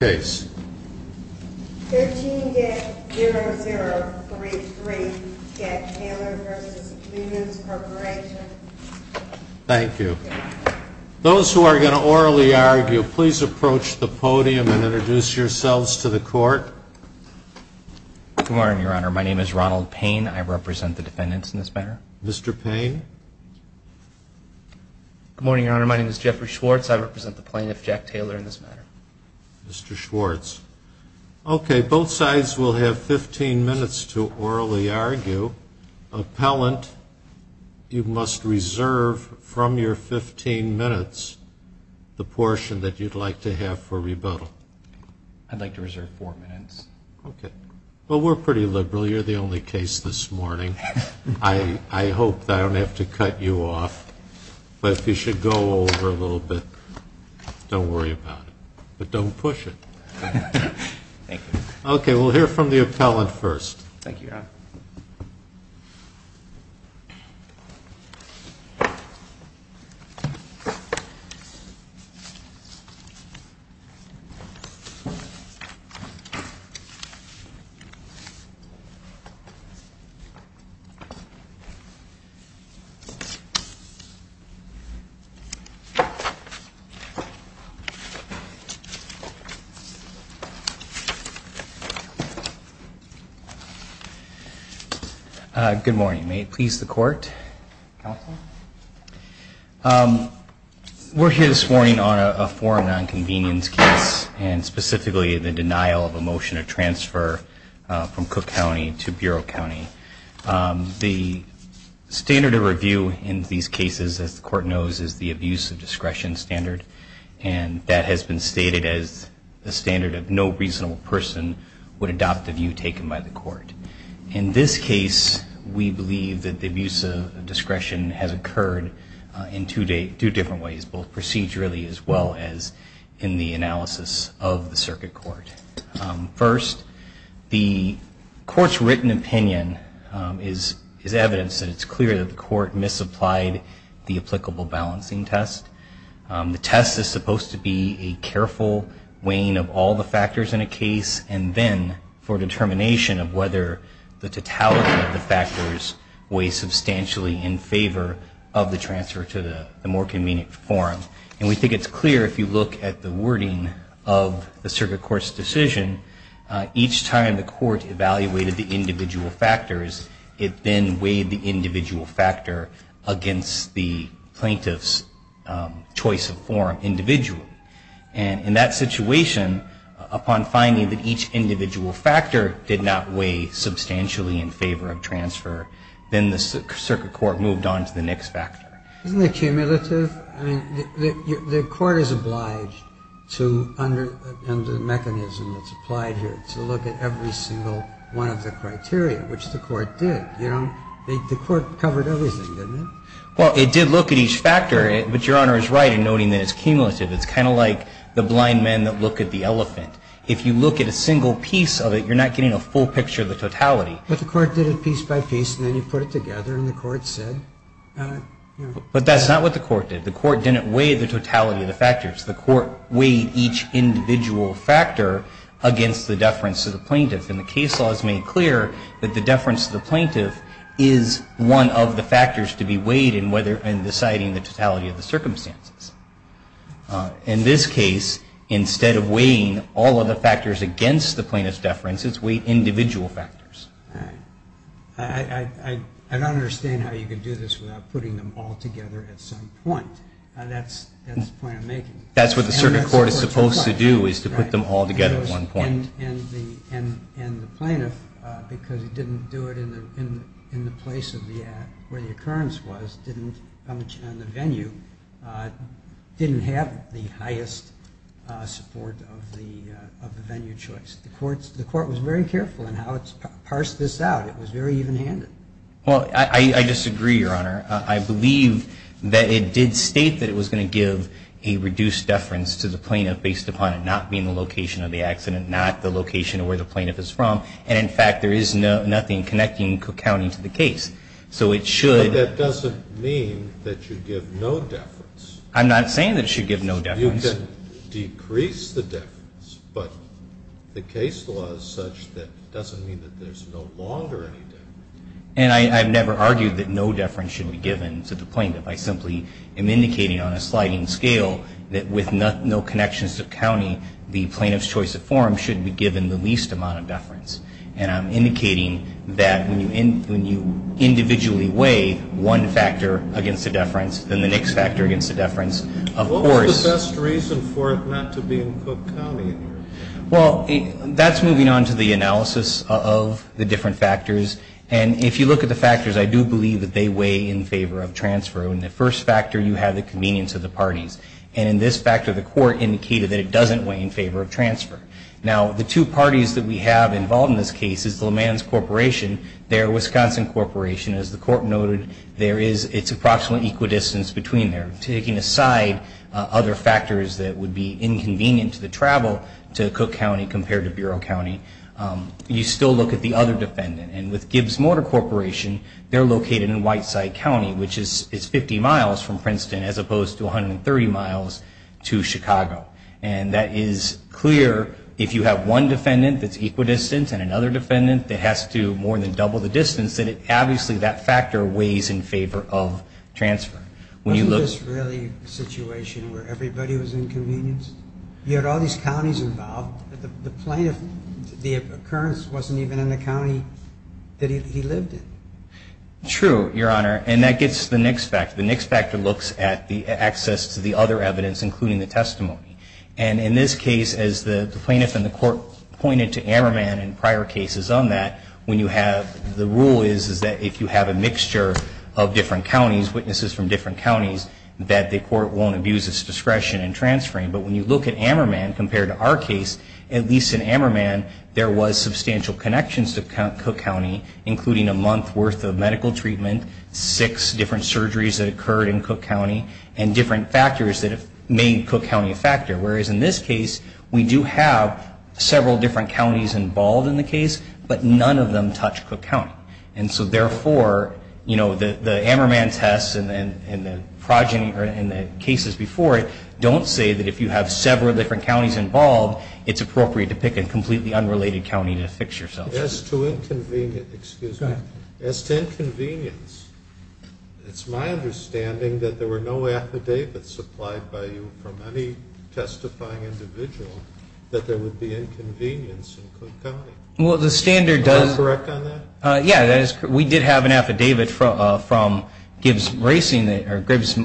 13-0033, Jack Taylor v. Lemans Corporation Thank you. Those who are going to orally argue, please approach the podium and introduce yourselves to the court. Good morning, Your Honor. My name is Ronald Payne. I represent the defendants in this matter. Mr. Payne. Good morning, Your Honor. My name is Jeffrey Schwartz. I represent the plaintiff, Jack Taylor, in this matter. Mr. Schwartz. Okay, both sides will have 15 minutes to orally argue. Appellant, you must reserve from your 15 minutes the portion that you'd like to have for rebuttal. I'd like to reserve four minutes. Okay. Well, we're pretty liberal. You're the only case this morning. I hope that I don't have to cut you off. But if you should go over a little bit, don't worry about it. But don't push it. Thank you. Okay, we'll hear from the appellant first. Thank you. Thank you, Your Honor. Good morning. May it please the court? We're here this morning on a forum nonconvenience case and specifically the denial of a motion of transfer from Cook County to Bureau County. The standard of review in these cases, as the court knows, is the abuse of discretion standard. And that has been stated as the standard of no reasonable person would adopt the view taken by the court. In this case, we believe that the abuse of discretion has occurred in two different ways, both procedurally as well as in the analysis of the circuit court. First, the court's written opinion is evidence that it's clear that the court misapplied the applicable balancing test. The test is supposed to be a careful weighing of all the factors in a case and then for determination of whether the totality of the factors weighs substantially in favor of the transfer to the more convenient forum. And we think it's clear if you look at the wording of the circuit court's decision, each time the court evaluated the individual factors, it then weighed the individual factor against the plaintiff's choice of forum individually. And in that situation, upon finding that each individual factor did not weigh substantially in favor of transfer, then the circuit court moved on to the next factor. Isn't it cumulative? I mean, the court is obliged to, under the mechanism that's applied here, to look at every single one of the criteria, which the court did. You know, the court covered everything, didn't it? Well, it did look at each factor, but Your Honor is right in noting that it's cumulative. It's kind of like the blind men that look at the elephant. If you look at a single piece of it, you're not getting a full picture of the totality. But the court did it piece by piece and then you put it together and the court said, you know. But that's not what the court did. The court didn't weigh the totality of the factors. The court weighed each individual factor against the deference to the plaintiff. And the case law has made clear that the deference to the plaintiff is one of the factors to be weighed in deciding the totality of the circumstances. In this case, instead of weighing all of the factors against the plaintiff's deference, it's weighed individual factors. I don't understand how you can do this without putting them all together at some point. That's the point I'm making. That's what the circuit court is supposed to do, is to put them all together at one point. And the plaintiff, because he didn't do it in the place where the occurrence was, didn't have the highest support of the venue choice. The court was very careful in how it parsed this out. It was very even-handed. Well, I disagree, Your Honor. I believe that it did state that it was going to give a reduced deference to the plaintiff based upon it not being the location of the accident, not the location of where the plaintiff is from. And, in fact, there is nothing connecting Cook County to the case. So it should. But that doesn't mean that you give no deference. I'm not saying that it should give no deference. You can decrease the deference, but the case law is such that it doesn't mean that there's no longer any deference. And I've never argued that no deference should be given to the plaintiff. I simply am indicating on a sliding scale that with no connections to the county, the plaintiff's choice of form should be given the least amount of deference. And I'm indicating that when you individually weigh one factor against a deference, then the next factor against a deference, of course. What was the best reason for it not to be in Cook County, Your Honor? Well, that's moving on to the analysis of the different factors. And if you look at the factors, I do believe that they weigh in favor of transfer. In the first factor, you have the convenience of the parties. And in this factor, the court indicated that it doesn't weigh in favor of transfer. Now, the two parties that we have involved in this case is LeMans Corporation, their Wisconsin Corporation. As the court noted, it's approximately equidistant between there. Taking aside other factors that would be inconvenient to the travel to Cook County compared to Bureau County, you still look at the other defendant. And with Gibbs Motor Corporation, they're located in Whiteside County, which is 50 miles from Princeton as opposed to 130 miles to Chicago. And that is clear if you have one defendant that's equidistant and another defendant that has to more than double the distance, that obviously that factor weighs in favor of transfer. Wasn't this really a situation where everybody was inconvenienced? You had all these counties involved. The plaintiff, the occurrence wasn't even in the county that he lived in. True, Your Honor. And that gets to the next factor. The next factor looks at the access to the other evidence, including the testimony. And in this case, as the plaintiff and the court pointed to Ammerman and prior cases on that, the rule is that if you have a mixture of different counties, witnesses from different counties, that the court won't abuse its discretion in transferring. But when you look at Ammerman compared to our case, at least in Ammerman, there was substantial connections to Cook County, including a month's worth of medical treatment, six different surgeries that occurred in Cook County, and different factors that have made Cook County a factor. Whereas in this case, we do have several different counties involved in the case, but none of them touch Cook County. And so therefore, you know, the Ammerman tests and the cases before it don't say that if you have several different counties involved, it's appropriate to pick a completely unrelated county to fix yourself. As to inconvenience, it's my understanding that there were no affidavits supplied by you from any testifying individual that there would be inconvenience in Cook County. Well, the standard does. Am I correct on that? Yeah. We did have an affidavit from Gibbs Racing or Gibbs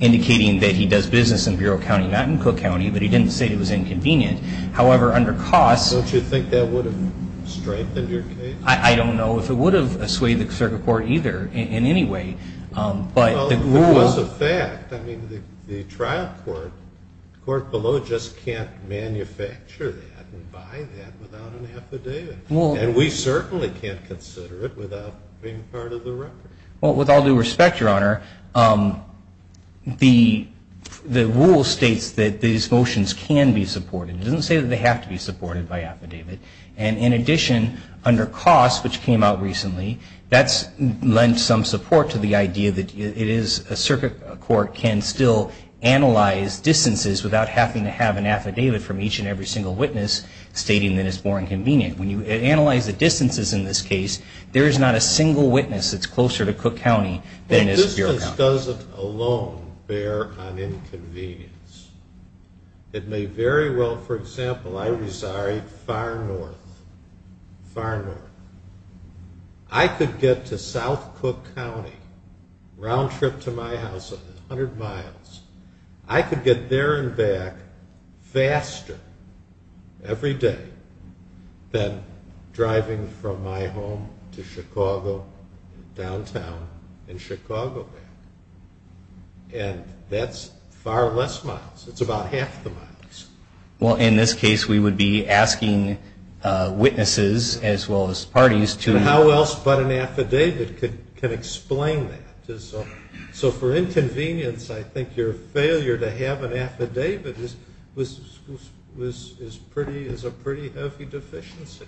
indicating that he does business in Bureau County, not in Cook County, but he didn't say it was inconvenient. However, under costs. Don't you think that would have strengthened your case? I don't know if it would have swayed the circuit court either in any way. Well, it was a fact. I mean, the trial court, the court below just can't manufacture that and buy that without an affidavit. And we certainly can't consider it without being part of the record. Well, with all due respect, Your Honor, the rule states that these motions can be supported. It doesn't say that they have to be supported by affidavit. And in addition, under costs, which came out recently, that's lent some support to the idea that it is a circuit court can still analyze distances without having to have an affidavit from each and every single witness stating that it's more inconvenient. When you analyze the distances in this case, there is not a single witness that's closer to Cook County than is Bureau County. The distance doesn't alone bear on inconvenience. It may very well, for example, I reside far north, far north. I could get to South Cook County, round trip to my house, 100 miles. I could get there and back faster every day than driving from my home to Chicago, downtown, and Chicago back. And that's far less miles. It's about half the miles. Well, in this case, we would be asking witnesses as well as parties to How else but an affidavit can explain that? So for inconvenience, I think your failure to have an affidavit is a pretty heavy deficiency.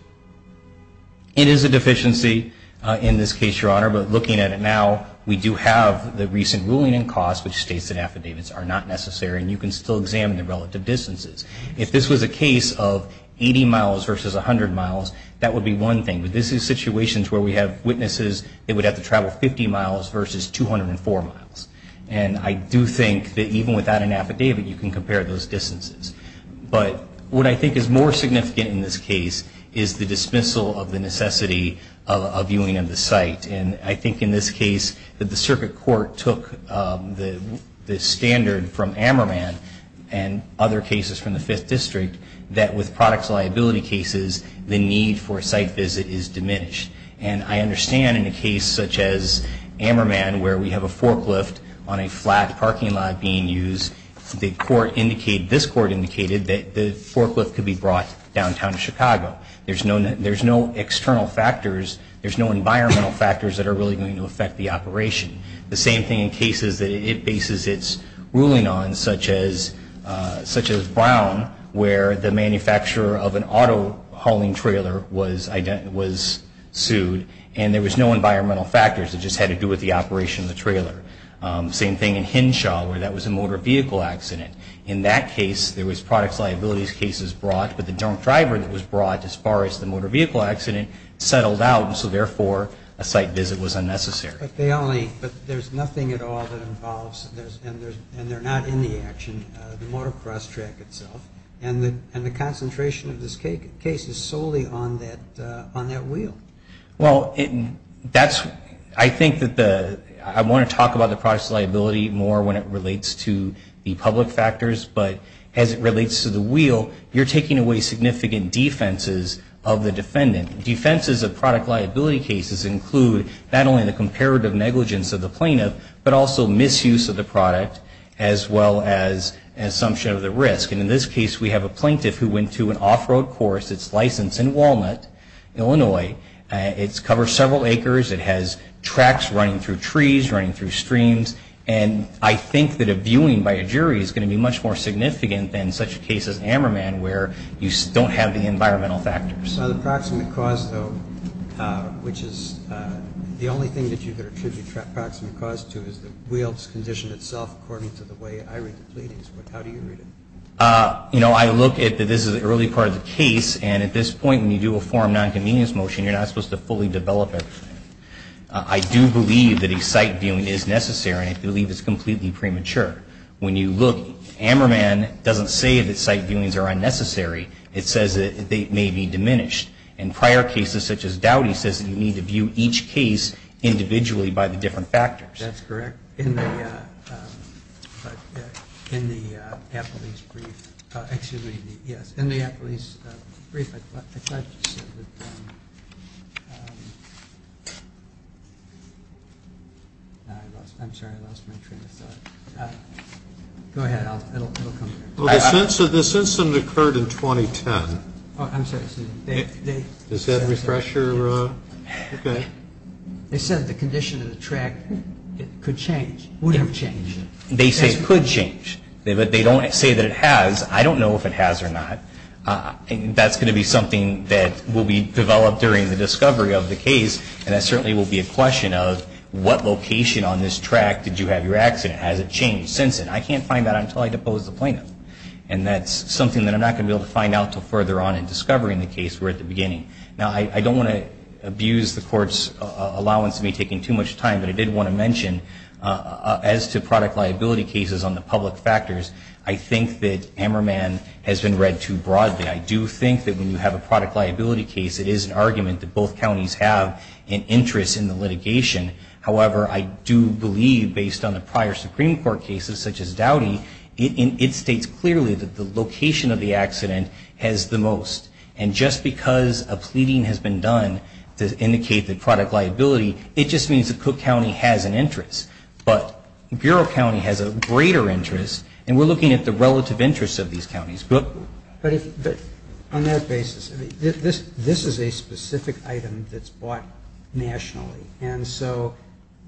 It is a deficiency in this case, Your Honor. But looking at it now, we do have the recent ruling in cost, which states that affidavits are not necessary. And you can still examine the relative distances. If this was a case of 80 miles versus 100 miles, that would be one thing. But this is situations where we have witnesses that would have to travel 50 miles versus 204 miles. And I do think that even without an affidavit, you can compare those distances. But what I think is more significant in this case is the dismissal of the necessity of viewing of the site And I think in this case that the circuit court took the standard from Ammerman and other cases from the 5th District that with products liability cases, the need for a site visit is diminished. And I understand in a case such as Ammerman where we have a forklift on a flat parking lot being used, this court indicated that the forklift could be brought downtown to Chicago. There's no external factors. There's no environmental factors that are really going to affect the operation. The same thing in cases that it bases its ruling on, such as Brown, where the manufacturer of an auto hauling trailer was sued. And there was no environmental factors. It just had to do with the operation of the trailer. Same thing in Henshaw where that was a motor vehicle accident. In that case, there was products liability cases brought, but the drunk driver that was brought as far as the motor vehicle accident settled out, and so therefore a site visit was unnecessary. But there's nothing at all that involves, and they're not in the action, the motor cross track itself. And the concentration of this case is solely on that wheel. Well, that's, I think that the, I want to talk about the products liability more when it relates to the public factors, but as it relates to the wheel, you're taking away significant defenses of the defendant. Defenses of product liability cases include not only the comparative negligence of the plaintiff, but also misuse of the product as well as assumption of the risk. And in this case, we have a plaintiff who went to an off-road course. It's licensed in Walnut, Illinois. It's covered several acres. It has tracks running through trees, running through streams. And I think that a viewing by a jury is going to be much more significant than such a case as Ammerman where you don't have the environmental factors. The proximate cause, though, which is the only thing that you could attribute proximate cause to is the wheel's condition itself according to the way I read the pleadings. How do you read it? You know, I look at that this is an early part of the case, and at this point when you do a forum non-convenience motion, you're not supposed to fully develop everything. I do believe that a site viewing is necessary, and I believe it's completely premature. When you look, Ammerman doesn't say that site viewings are unnecessary. It says that they may be diminished. In prior cases such as Dowdy, it says that you need to view each case individually by the different factors. That's correct. In the appellee's brief, I thought you said that-I'm sorry. I lost my train of thought. Go ahead. It'll come here. Well, this incident occurred in 2010. Oh, I'm sorry. Does that refresh your-okay. They said the condition of the track could change, would have changed. They say it could change, but they don't say that it has. I don't know if it has or not. That's going to be something that will be developed during the discovery of the case, and that certainly will be a question of what location on this track did you have your accident? Has it changed since then? I can't find that until I depose the plaintiff, and that's something that I'm not going to be able to find out until further on in discovering the case. We're at the beginning. Now, I don't want to abuse the Court's allowance of me taking too much time, but I did want to mention, as to product liability cases on the public factors, I think that Ammerman has been read too broadly. I do think that when you have a product liability case, it is an argument that both counties have an interest in the litigation. However, I do believe, based on the prior Supreme Court cases, such as Dowdy, it states clearly that the location of the accident has the most. And just because a pleading has been done to indicate the product liability, it just means that Cook County has an interest. But Bureau County has a greater interest, and we're looking at the relative interest of these counties. But on that basis, this is a specific item that's bought nationally, and so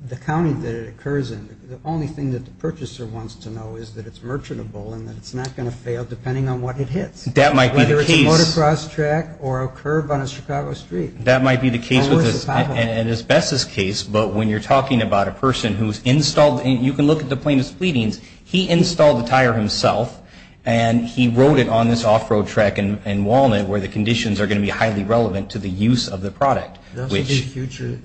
the county that it occurs in, the only thing that the purchaser wants to know is that it's merchantable and that it's not going to fail depending on what it hits. That might be the case. Whether it's a motocross track or a curb on a Chicago street. That might be the case with this, and as best as case, but when you're talking about a person who's installed, and you can look at the plaintiff's pleadings, he installed the tire himself and he rode it on this off-road track in Walnut, where the conditions are going to be highly relevant to the use of the product. Those would be future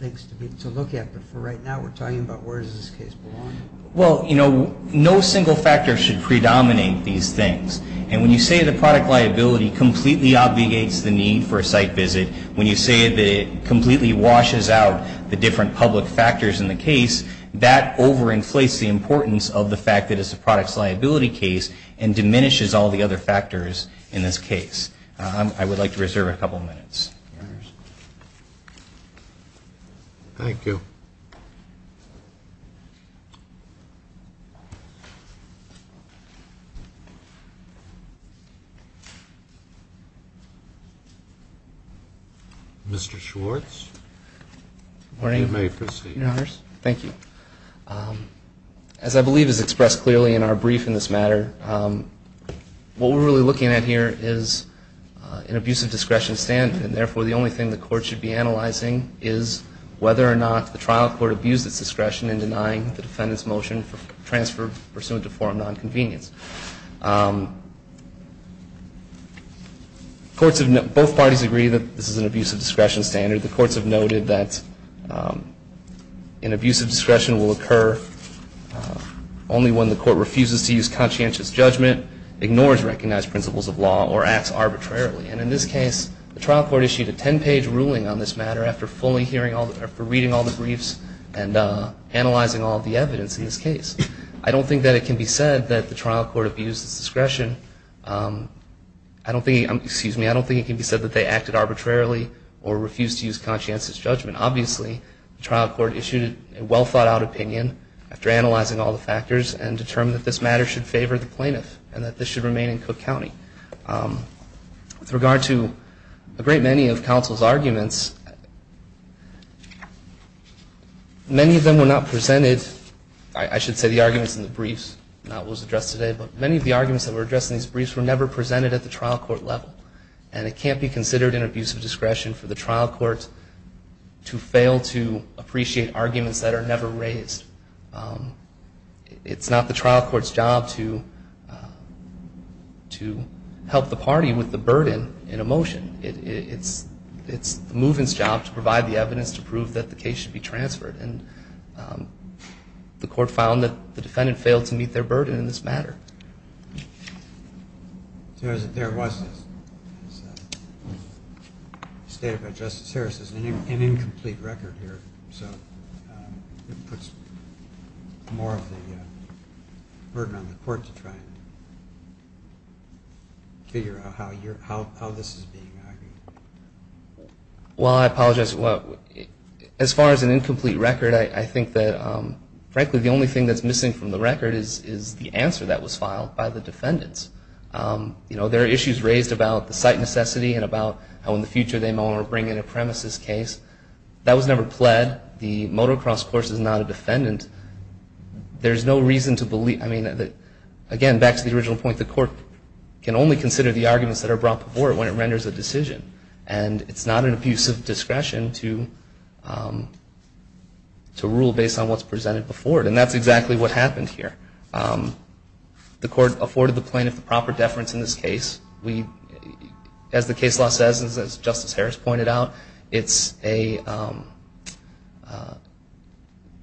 things to look at, but for right now we're talking about where does this case belong? Well, you know, no single factor should predominate these things, and when you say the product liability completely obligates the need for a site visit, when you say that it completely washes out the different public factors in the case, that overinflates the importance of the fact that it's a product's liability case and diminishes all the other factors in this case. I would like to reserve a couple minutes. Thank you. Mr. Schwartz, you may proceed. Thank you. As I believe is expressed clearly in our brief in this matter, what we're really looking at here is an abusive discretion standard, and therefore the only thing the court should be analyzing is whether or not the trial court abused its discretion in denying the defendant's motion for transfer pursuant to forum nonconvenience. Both parties agree that this is an abusive discretion standard. The courts have noted that an abusive discretion will occur only when the court refuses to use conscientious judgment, ignores recognized principles of law, or acts arbitrarily. And in this case, the trial court issued a 10-page ruling on this matter after reading all the briefs and analyzing all the evidence in this case. I don't think that it can be said that the trial court abused its discretion. I don't think it can be said that they acted arbitrarily or refused to use conscientious judgment. Obviously, the trial court issued a well-thought-out opinion after analyzing all the factors and determined that this matter should favor the plaintiff and that this should remain in Cook County. With regard to a great many of counsel's arguments, many of them were not presented. I should say the arguments in the briefs, not what was addressed today, but many of the arguments that were addressed in these briefs were never presented at the trial court level. And it can't be considered an abusive discretion for the trial court to fail to appreciate arguments that are never raised. It's not the trial court's job to help the party with the burden in a motion. It's the movement's job to provide the evidence to prove that the case should be transferred. And the court found that the defendant failed to meet their burden in this matter. There was, as stated by Justice Harris, an incomplete record here. So it puts more of the burden on the court to try and figure out how this is being handled. Well, I apologize. As far as an incomplete record, I think that, frankly, the only thing that's missing from the record is the answer that was filed by the defendants. There are issues raised about the site necessity and about how in the future they may want to bring in a premises case. That was never pled. The motocross course is not a defendant. Again, back to the original point, the court can only consider the arguments that are brought before it when it renders a decision. And it's not an abusive discretion to rule based on what's presented before it. And that's exactly what happened here. The court afforded the plaintiff the proper deference in this case. As the case law says, as Justice Harris pointed out, a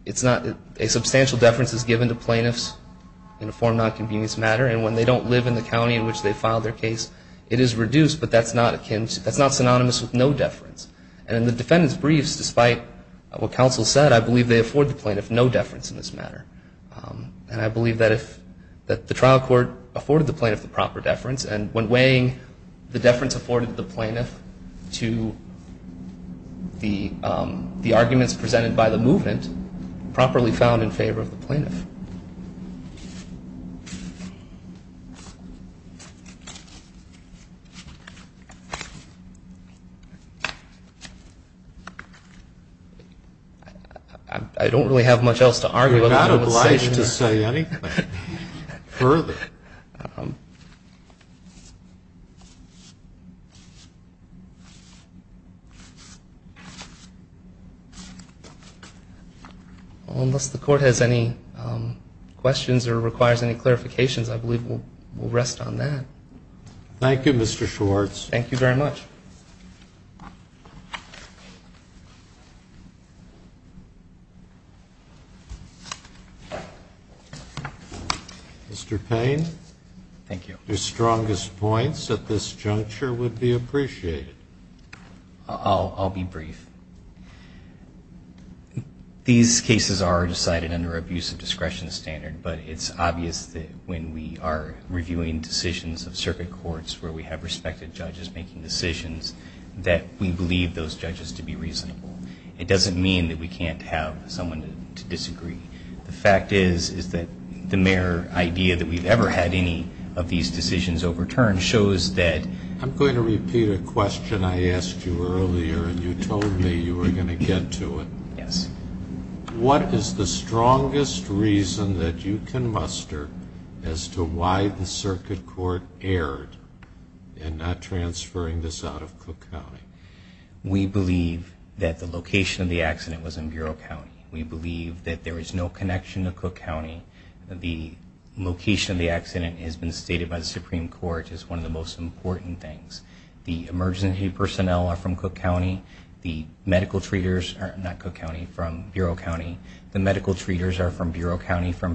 substantial deference is given to plaintiffs in a form not convenient to the matter. And when they don't live in the county in which they filed their case, it is reduced, but that's not synonymous with no deference. And in the defendant's briefs, despite what counsel said, I believe they afford the plaintiff no deference in this matter. And I believe that the trial court afforded the plaintiff the proper deference, and when weighing the deference afforded the plaintiff to the arguments presented by the movement, properly found in favor of the plaintiff. I don't really have much else to argue about. You're not obliged to say anything further. Unless the court has any questions or requires any clarifications, I believe we'll rest on that. Thank you, Mr. Schwartz. Thank you very much. Mr. Payne, your strongest points at this juncture would be appreciated. I'll be brief. These cases are decided under abuse of discretion standard, but it's obvious that when we are reviewing decisions of circuit courts where we have respected judges making decisions, that we believe those judges to be reasonable. It doesn't mean that we can't have someone to disagree. The fact is, is that the mere idea that we've ever had any of these decisions overturned by the circuit court is that... I'm going to repeat a question I asked you earlier, and you told me you were going to get to it. Yes. What is the strongest reason that you can muster as to why the circuit court erred in not transferring this out of Cook County? We believe that the location of the accident was in Bureau County. We believe that there is no connection to Cook County. The location of the accident has been stated by the Supreme Court as one of the most important things. The emergency personnel are from Cook County. The medical treaters are from Bureau County, from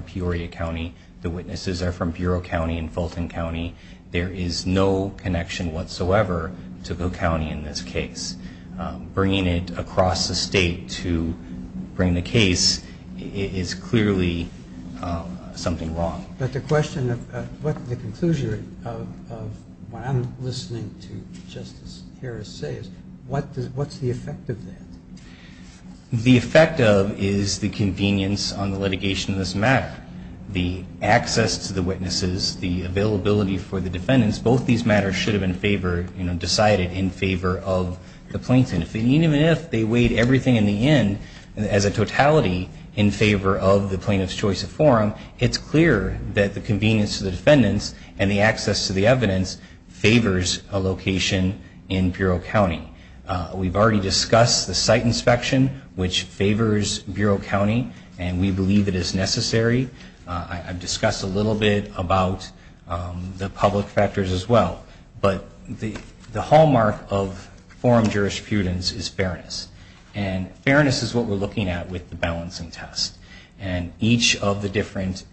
Peoria County. The witnesses are from Bureau County and Fulton County. There is no connection whatsoever to Cook County in this case. Bringing it across the state to bring the case is clearly something wrong. But the question of what the conclusion of what I'm listening to Justice Harris say is, what's the effect of that? The effect of is the convenience on the litigation of this matter, the access to the witnesses, the availability for the defendants. Both these matters should have been decided in favor of the plaintiff. Even if they weighed everything in the end as a totality in favor of the plaintiff's choice of forum, it's clear that the convenience of the defendants and the access to the evidence favors a location in Bureau County. We've already discussed the site inspection, which favors Bureau County, and we believe it is necessary. I've discussed a little bit about the public factors as well. But the hallmark of forum jurisprudence is fairness. And fairness is what we're looking at with the balancing test. And each of the different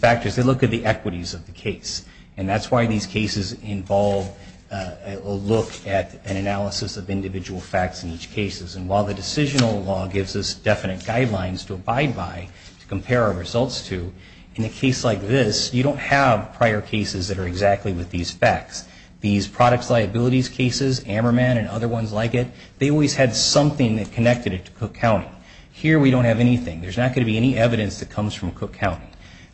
factors, they look at the equities of the case. And that's why these cases involve a look at an analysis of individual facts in each case. And while the decisional law gives us definite guidelines to abide by to compare our results to, in a case like this, you don't have prior cases that are exactly with these facts. These products liabilities cases, Ammerman and other ones like it, they always had something that connected it to Cook County. Here we don't have anything. There's not going to be any evidence that comes from Cook County.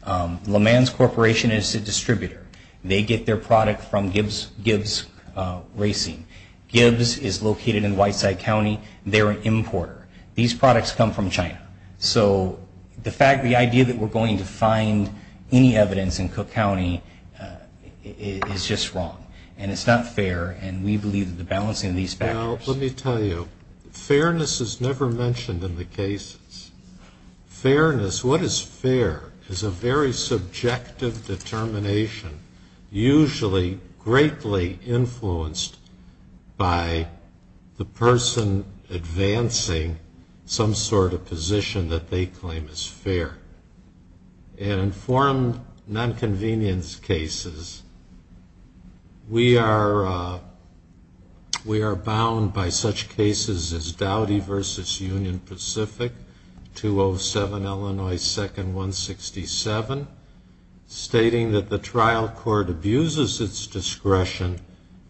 LeMans Corporation is a distributor. They get their product from Gibbs Racing. Gibbs is located in Whiteside County. They're an importer. These products come from China. So the idea that we're going to find any evidence in Cook County is just wrong. And it's not fair. And we believe that the balancing of these factors. Fairness is never mentioned in the cases. Fairness, what is fair, is a very subjective determination, usually greatly influenced by the person advancing In informed nonconvenience cases, we are bound by such cases as Dowdy v. Union Pacific, 207 Illinois 2nd 167, stating that the trial court abuses its discretion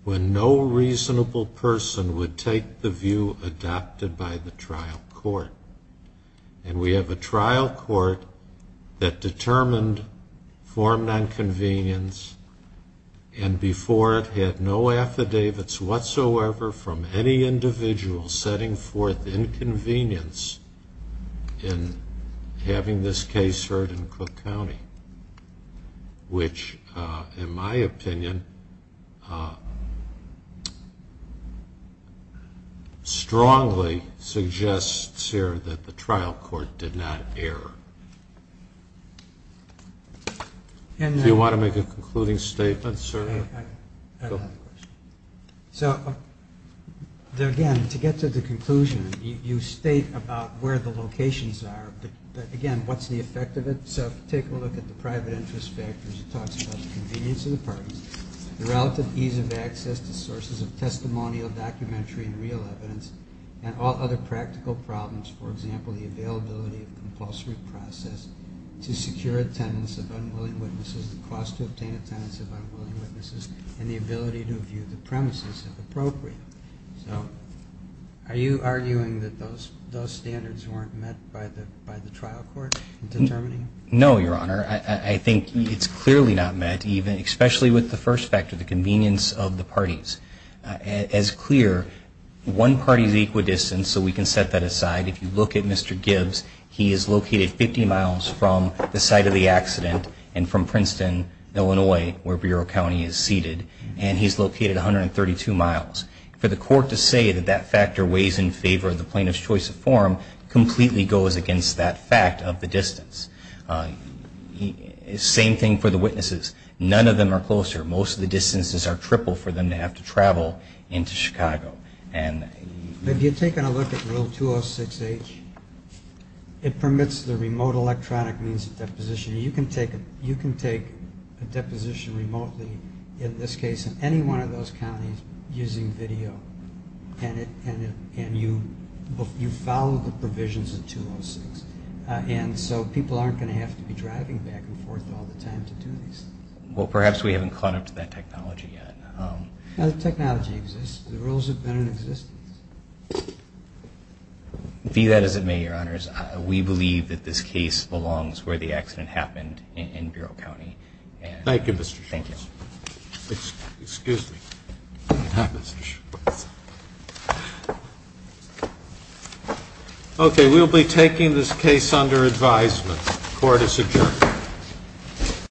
when no reasonable person would take the view adopted by the trial court. And we have a trial court that determined informed nonconvenience and before it had no affidavits whatsoever from any individual setting forth inconvenience in having this case heard in Cook County, which in my opinion strongly suggests, sir, that the trial court did not err. Do you want to make a concluding statement, sir? So again, to get to the conclusion, you state about where the locations are, but again, what's the effect of it? So take a look at the private interest factors, the relative ease of access to sources of testimonial documentary and real evidence, and all other practical problems, for example, the availability of compulsory process to secure attendance of unwilling witnesses, the cost to obtain attendance of unwilling witnesses, so are you arguing that those standards weren't met by the trial court in determining? No, Your Honor. I think it's clearly not met, especially with the first factor, the convenience of the parties. As clear, one party's equidistant, so we can set that aside. If you look at Mr. Gibbs, he is located 50 miles from the site of the accident and from Princeton, Illinois, where Bureau County is seated, and he's located 132 miles. For the court to say that that factor weighs in favor of the plaintiff's choice of form completely goes against that fact of the distance. Same thing for the witnesses. None of them are closer. Most of the distances are triple for them to have to travel into Chicago. If you take a look at Rule 206H, it permits the remote electronic means of deposition. You can take a deposition remotely, in this case, in any one of those counties using video, and you follow the provisions of 206, and so people aren't going to have to be driving back and forth all the time to do these things. Well, perhaps we haven't caught up to that technology yet. The technology exists. The rules have been in existence. Be that as it may, Your Honors, we believe that this case belongs where the accident happened in Bureau County. Thank you, Mr. Schwartz. Excuse me. Okay, we'll be taking this case under advisement. Court is adjourned.